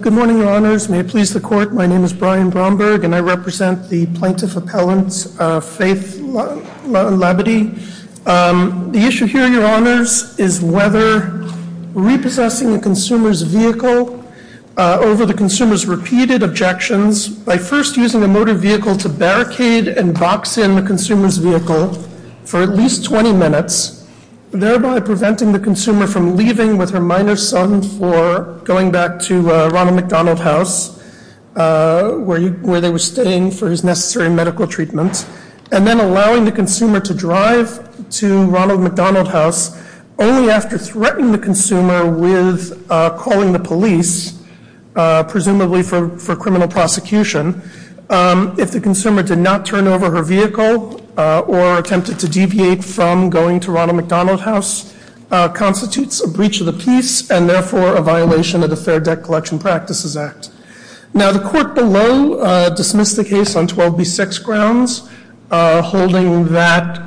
Good morning, Your Honors. May it please the Court, my name is Brian Bromberg and I represent the Plaintiff Appellant Faith Labadie. The issue here, Your Honors, is whether repossessing a consumer's vehicle over the consumer's repeated objections by first using a motor vehicle to barricade and box in the consumer's vehicle for at least 20 minutes, thereby preventing the consumer from leaving with her minor son for going back to Ronald McDonald House where they were staying for his dinner. And then allowing the consumer to drive to Ronald McDonald House only after threatening the consumer with calling the police, presumably for criminal prosecution, if the consumer did not turn over her vehicle or attempted to deviate from going to Ronald McDonald House constitutes a breach of the peace and therefore a violation of the Fair Debt Collection Practices Act. Now the court below dismissed the case on 12B6 grounds holding that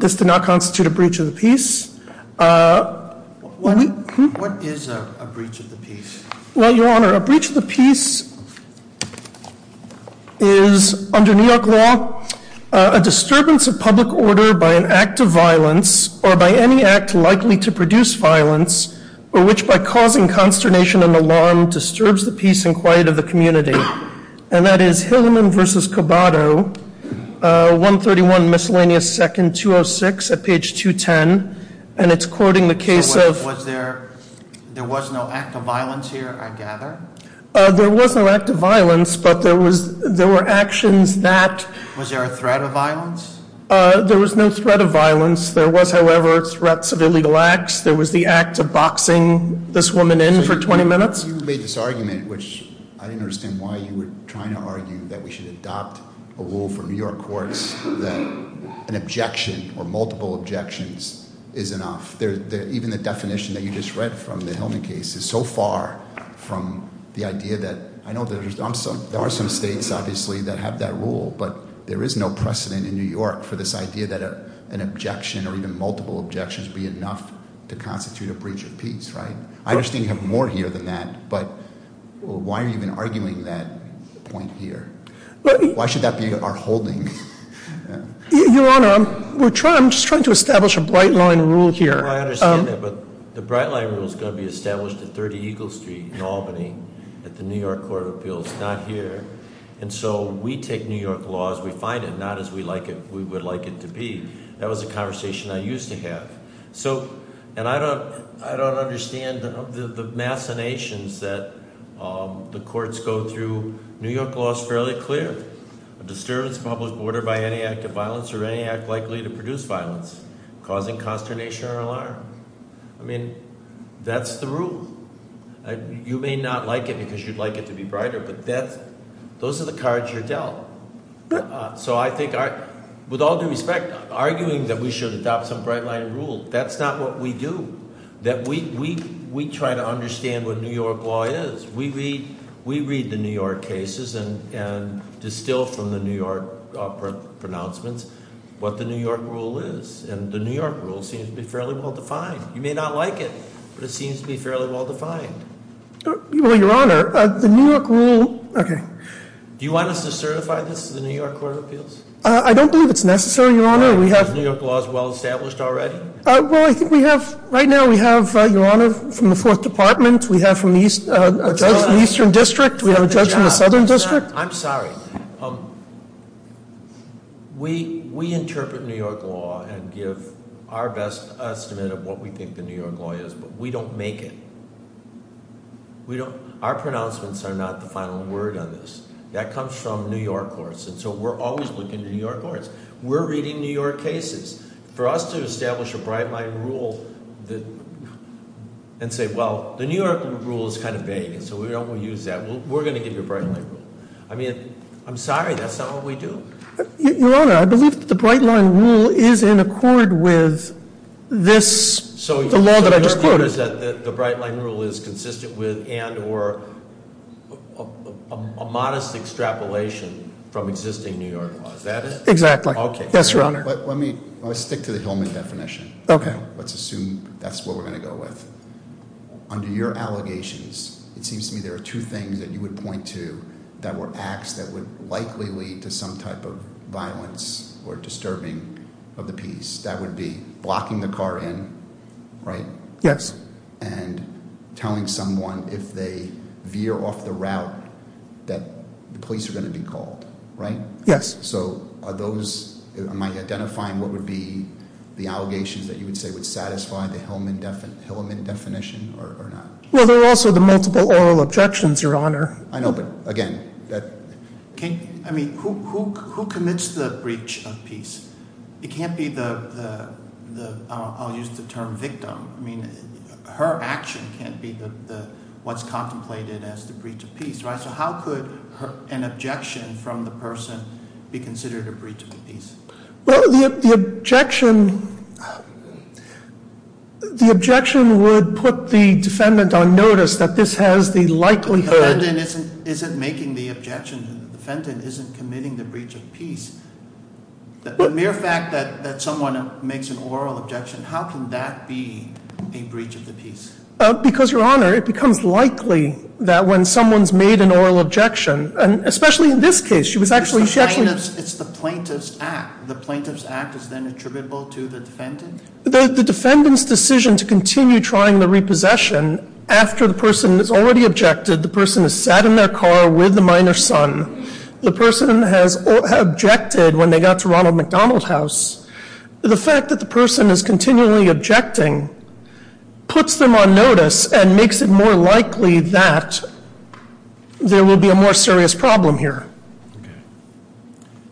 this did not constitute a breach of the peace. What is a breach of the peace? Well, Your Honor, a breach of the peace is, under New York law, a disturbance of public order by an act of violence or by any act likely to produce violence or which by causing consternation and alarm disturbs the peace and quiet of the community. And that is Hilleman v. Cobado, 131 Miscellaneous 2nd, 206 at page 210. And it's quoting the case of... There was no act of violence here, I gather? There was no act of violence, but there were actions that... Was there a threat of violence? There was no threat of violence. There was, however, threats of illegal acts. There was the act of boxing this woman in for 20 minutes. Because you made this argument, which I didn't understand why you were trying to argue that we should adopt a rule for New York courts that an objection or multiple objections is enough. Even the definition that you just read from the Hillman case is so far from the idea that... I know there are some states, obviously, that have that rule, but there is no precedent in New York for this idea that an objection or even multiple objections be enough to constitute a breach of peace, right? I understand you have more here than that, but why are you even arguing that point here? Why should that be our holding? Your Honor, I'm just trying to establish a bright line rule here. I understand that, but the bright line rule is going to be established at 30 Eagle Street in Albany at the New York Court of Appeals, not here. And so we take New York law as we find it, not as we would like it to be. That was a conversation I used to have. And I don't understand the machinations that the courts go through. New York law is fairly clear. A disturbance of public order by any act of violence or any act likely to produce violence, causing consternation or alarm. I mean, that's the rule. You may not like it because you'd like it to be brighter, but those are the cards you're dealt. So I think, with all due respect, arguing that we should adopt some bright line rule, that's not what we do. That we try to understand what New York law is. We read the New York cases and distill from the New York pronouncements what the New York rule is. And the New York rule seems to be fairly well defined. You may not like it, but it seems to be fairly well defined. Well, your honor, the New York rule, okay. Do you want us to certify this to the New York Court of Appeals? I don't believe it's necessary, your honor. New York law is well established already? Well, I think we have, right now we have, your honor, from the fourth department. We have a judge from the eastern district. We have a judge from the southern district. I'm sorry. We interpret New York law and give our best estimate of what we think the New York law is, but we don't make it. Our pronouncements are not the final word on this. That comes from New York courts, and so we're always looking to New York courts. We're reading New York cases. For us to establish a bright line rule and say, well, the New York rule is kind of vague, and so we don't want to use that. We're going to give you a bright line rule. I mean, I'm sorry, that's not what we do. Your honor, I believe that the bright line rule is in accord with this, the law that I just quoted. The idea is that the bright line rule is consistent with and or a modest extrapolation from existing New York laws. Is that it? Exactly. Yes, your honor. Let me stick to the Hillman definition. Okay. Let's assume that's what we're going to go with. Under your allegations, it seems to me there are two things that you would point to that were acts that would likely lead to some type of violence or disturbing of the peace. That would be blocking the car in, right? Yes. And telling someone if they veer off the route that the police are going to be called, right? Yes. So are those, am I identifying what would be the allegations that you would say would satisfy the Hillman definition or not? Well, there are also the multiple oral objections, your honor. I know, but again, that- I mean, who commits the breach of peace? It can't be the, I'll use the term victim. I mean, her action can't be what's contemplated as the breach of peace, right? So how could an objection from the person be considered a breach of peace? Well, the objection would put the defendant on notice that this has the likelihood- The defendant isn't making the objection. The defendant isn't committing the breach of peace. The mere fact that someone makes an oral objection, how can that be a breach of the peace? Because, your honor, it becomes likely that when someone's made an oral objection, and especially in this case, she was actually- It's the plaintiff's act. The plaintiff's act is then attributable to the defendant? The defendant's decision to continue trying the repossession after the person has already objected, the person has sat in their car with the minor's son, the person has objected when they got to Ronald McDonald House, the fact that the person is continually objecting puts them on notice and makes it more likely that there will be a more serious problem here.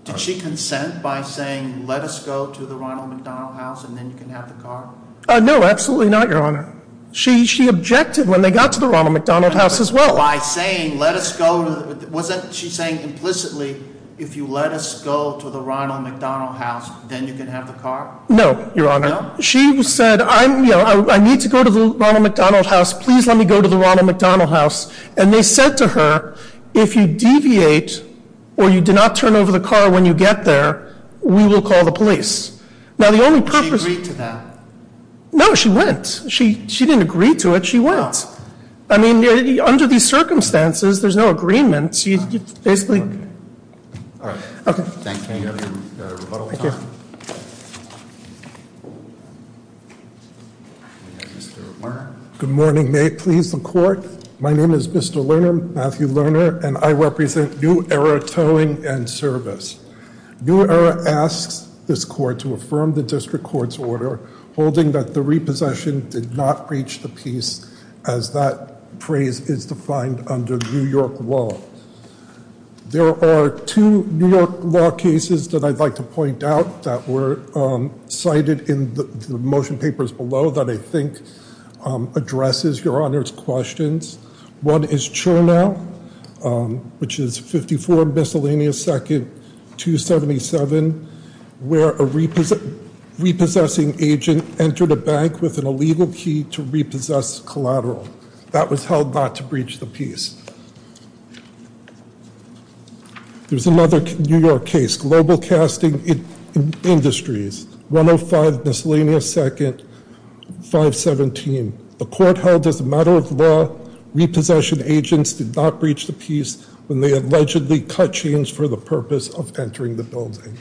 Did she consent by saying, let us go to the Ronald McDonald House and then you can have the car? No, absolutely not, your honor. She objected when they got to the Ronald McDonald House as well. By saying, let us go- wasn't she saying implicitly, if you let us go to the Ronald McDonald House, then you can have the car? No, your honor. No? She said, I need to go to the Ronald McDonald House, please let me go to the Ronald McDonald House. And they said to her, if you deviate or you do not turn over the car when you get there, we will call the police. Now the only purpose- Did she agree to that? No, she went. She didn't agree to it, she went. How? I mean, under these circumstances, there's no agreement, so you basically- All right. Okay. Thank you. Can I get a rebuttal? Thank you. We have Mr. Werner. Good morning, may it please the court. My name is Mr. Werner, Matthew Werner, and I represent New Era Towing and Service. New Era asks this court to affirm the district court's order holding that the repossession did not breach the peace, as that phrase is defined under New York law. There are two New York law cases that I'd like to point out that were cited in the motion papers below that I think addresses Your Honor's questions. One is Chernow, which is 54 miscellaneous second 277, where a repossessing agent entered a bank with an illegal key to repossess collateral. That was held not to breach the peace. There's another New York case, Global Casting Industries, 105 miscellaneous second 517. The court held as a matter of law, repossession agents did not breach the peace when they allegedly cut chains for the purpose of entering the building.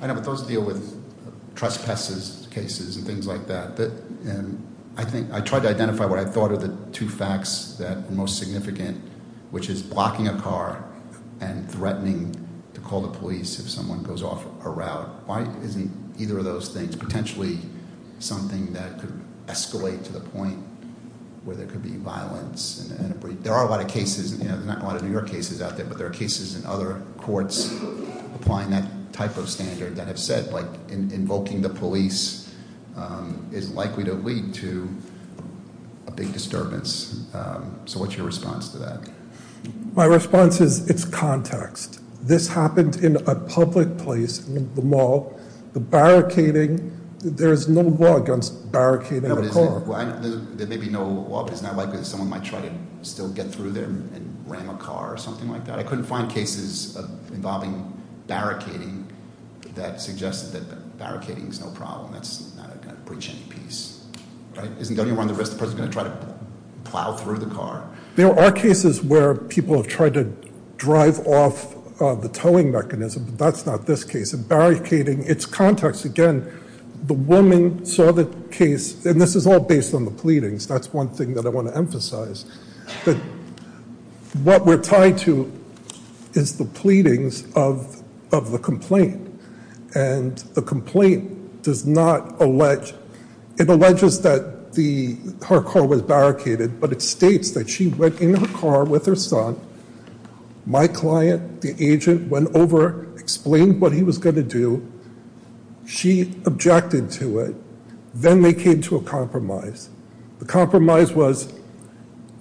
I know, but those deal with trespasses cases and things like that. I tried to identify what I thought are the two facts that are most significant, which is blocking a car and threatening to call the police if someone goes off a route. Why isn't either of those things potentially something that could escalate to the point where there could be violence and a breach? There are a lot of cases, not a lot of New York cases out there, but there are cases in other courts applying that type of standard that have said, invoking the police is likely to lead to a big disturbance. So what's your response to that? My response is it's context. This happened in a public place, the mall, the barricading. There is no law against barricading a car. There may be no law, but it's not likely that someone might try to still get through there and ram a car or something like that. I couldn't find cases involving barricading that suggested that barricading is no problem. That's not going to breach any peace. Right? Isn't going to run the risk the person's going to try to plow through the car? There are cases where people have tried to drive off the towing mechanism, but that's not this case. In barricading, it's context. Again, the woman saw the case, and this is all based on the pleadings. That's one thing that I want to emphasize. What we're tied to is the pleadings of the complaint, and the complaint does not allege. It alleges that her car was barricaded, but it states that she went in her car with her son. My client, the agent, went over, explained what he was going to do. She objected to it. Then they came to a compromise. The compromise was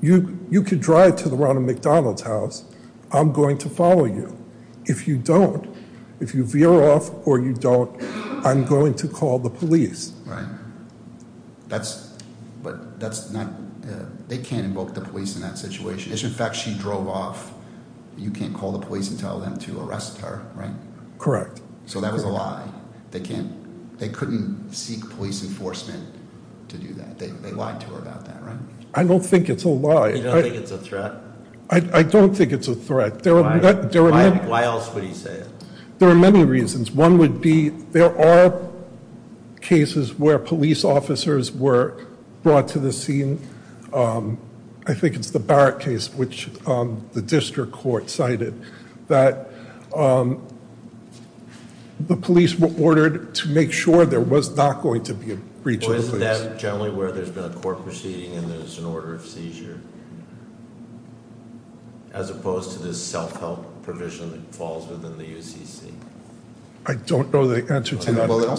you could drive to the Ronald McDonald's house. I'm going to follow you. If you don't, if you veer off or you don't, I'm going to call the police. Right. But they can't invoke the police in that situation. As a matter of fact, she drove off. You can't call the police and tell them to arrest her, right? Correct. So that was a lie. They couldn't seek police enforcement to do that. They lied to her about that, right? I don't think it's a lie. You don't think it's a threat? I don't think it's a threat. Why else would he say it? There are many reasons. One would be there are cases where police officers were brought to the scene. I think it's the Barrett case, which the district court cited, that the police were ordered to make sure there was not going to be a breach of the police. Isn't that generally where there's been a court proceeding and there's an order of seizure? As opposed to this self-help provision that falls within the UCC? I don't know the answer to that. I looked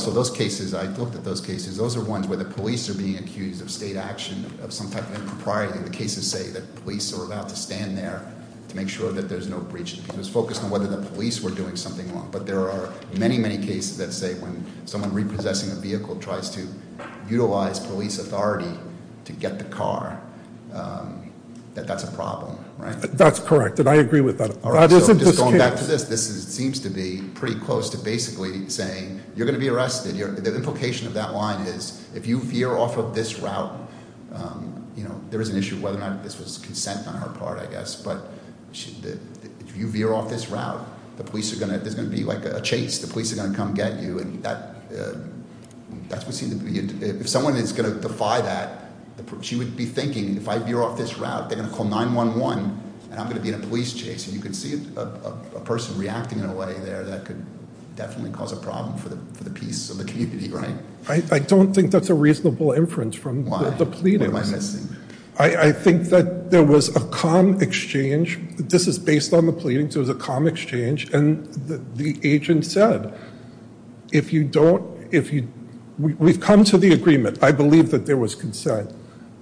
at those cases. Those are ones where the police are being accused of state action, of some type of impropriety. The cases say that police are allowed to stand there to make sure that there's no breach of the police. It's focused on whether the police were doing something wrong. But there are many, many cases that say when someone repossessing a vehicle tries to utilize police authority to get the car, that that's a problem. That's correct, and I agree with that. All right, so just going back to this, this seems to be pretty close to basically saying you're going to be arrested. The implication of that line is if you veer off of this route, there is an issue of whether or not this was consent on her part, I guess. But if you veer off this route, there's going to be a chase. The police are going to come get you, and if someone is going to defy that, she would be thinking if I veer off this route, they're going to call 911, and I'm going to be in a police chase. And you can see a person reacting in a way there that could definitely cause a problem for the peace of the community, right? I don't think that's a reasonable inference from the pleadings. Why? What am I missing? I think that there was a calm exchange. This is based on the pleadings. It was a calm exchange, and the agent said, if you don't, if you, we've come to the agreement. I believe that there was consent.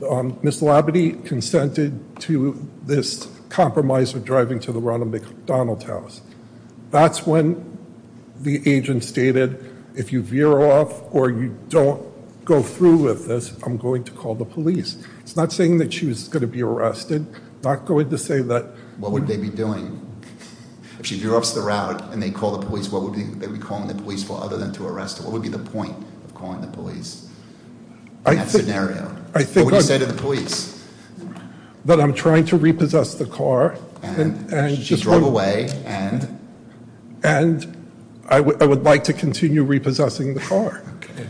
Ms. Labadee consented to this compromise of driving to the Ronald McDonald house. That's when the agent stated, if you veer off or you don't go through with this, I'm going to call the police. It's not saying that she was going to be arrested, not going to say that- What would they be doing? If she veers off the route and they call the police, what would they be calling the police for other than to arrest her? What would be the point of calling the police in that scenario? I think- What would you say to the police? That I'm trying to repossess the car. And she drove away, and? And I would like to continue repossessing the car. Okay.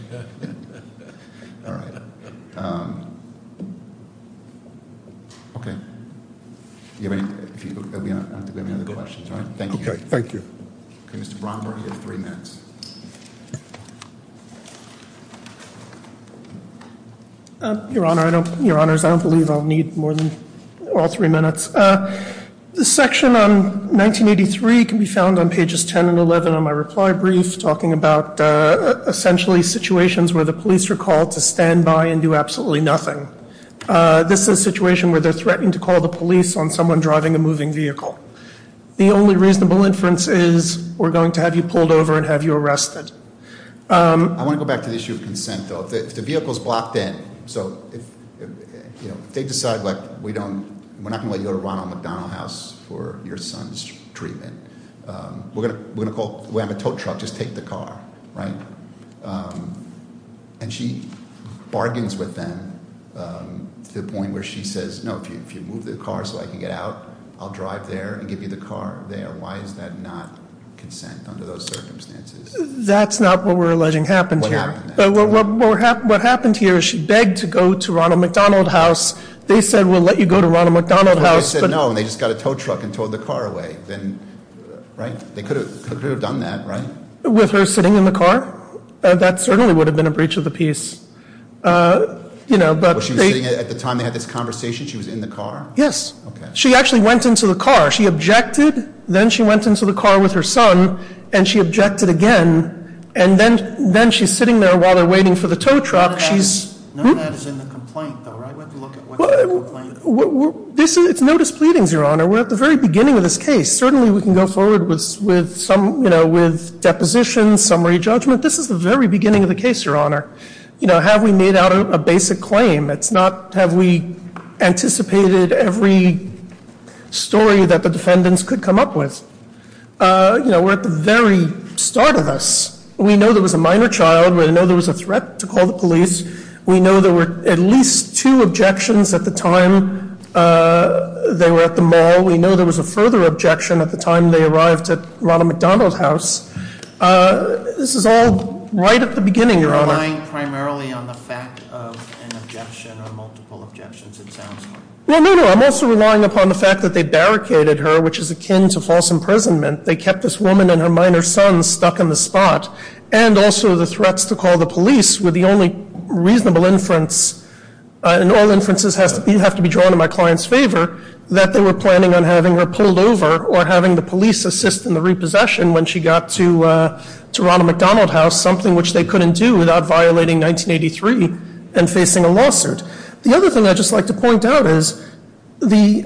All right. Okay. Do you have any other questions? Thank you. Okay, thank you. Okay, Mr. Bromberg, you have three minutes. Your Honor, I don't- Your Honors, I don't believe I'll need more than all three minutes. The section on 1983 can be found on pages 10 and 11 on my reply brief, talking about essentially situations where the police are called to stand by and do absolutely nothing. This is a situation where they're threatening to call the police on someone driving a moving vehicle. The only reasonable inference is we're going to have you pulled over and have you arrested. I want to go back to the issue of consent, though. If the vehicle's blocked in, so if they decide, like, we don't- we're not going to let you go to Ronald McDonald House for your son's treatment. We're going to have a tow truck just take the car, right? And she bargains with them to the point where she says, no, if you move the car so I can get out, I'll drive there and give you the car there. Why is that not consent under those circumstances? That's not what we're alleging happened here. What happened here? What happened here is she begged to go to Ronald McDonald House. They said, we'll let you go to Ronald McDonald House, but- They said no, and they just got a tow truck and towed the car away. Then, right? They could have done that, right? With her sitting in the car? That certainly would have been a breach of the peace. You know, but- Was she sitting there at the time they had this conversation? She was in the car? Yes. She actually went into the car. She objected. Then she went into the car with her son, and she objected again. And then she's sitting there while they're waiting for the tow truck. None of that is in the complaint, though, right? What's in the complaint? It's no displeadings, Your Honor. We're at the very beginning of this case. Certainly, we can go forward with some, you know, with depositions, summary judgment. This is the very beginning of the case, Your Honor. You know, have we made out a basic claim? It's not have we anticipated every story that the defendants could come up with. You know, we're at the very start of this. We know there was a minor child. We know there was a threat to call the police. We know there were at least two objections at the time they were at the mall. We know there was a further objection at the time they arrived at Ronald McDonald House. This is all right at the beginning, Your Honor. You're relying primarily on the fact of an objection or multiple objections, it sounds like. Well, no, no. I'm also relying upon the fact that they barricaded her, which is akin to false imprisonment. They kept this woman and her minor son stuck in the spot. And also the threats to call the police were the only reasonable inference, and all inferences have to be drawn in my client's favor, that they were planning on having her pulled over or having the police assist in the repossession when she got to Ronald McDonald House, something which they couldn't do without violating 1983 and facing a lawsuit. The other thing I'd just like to point out is the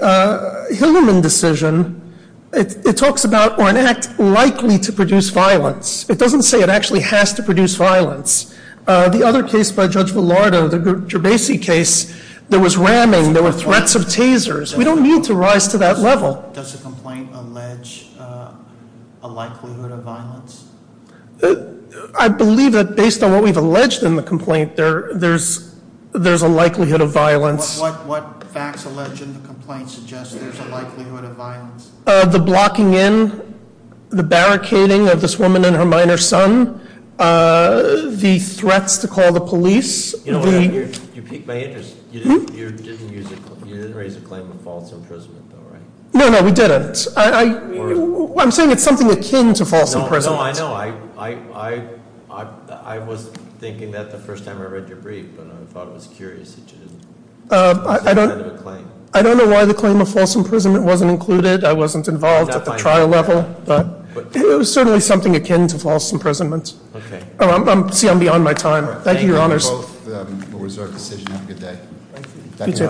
Hillerman decision, it talks about or an act likely to produce violence. It doesn't say it actually has to produce violence. The other case by Judge Villardo, the Gerbasi case, there was ramming, there were threats of tasers. We don't need to rise to that level. Does the complaint allege a likelihood of violence? I believe that based on what we've alleged in the complaint, there's a likelihood of violence. What facts allege in the complaint suggest there's a likelihood of violence? The blocking in, the barricading of this woman and her minor son, the threats to call the police. You know what, you piqued my interest. You didn't raise a claim of false imprisonment, though, right? No, no, we didn't. I'm saying it's something akin to false imprisonment. No, I know. I was thinking that the first time I read your brief, and I thought it was curious that you didn't. I don't know why the claim of false imprisonment wasn't included. I wasn't involved at the trial level, but it was certainly something akin to false imprisonment. Okay. See, I'm beyond my time. Thank you, Your Honors. Thank you, both. We'll reserve the decision. Have a good day. Thank you.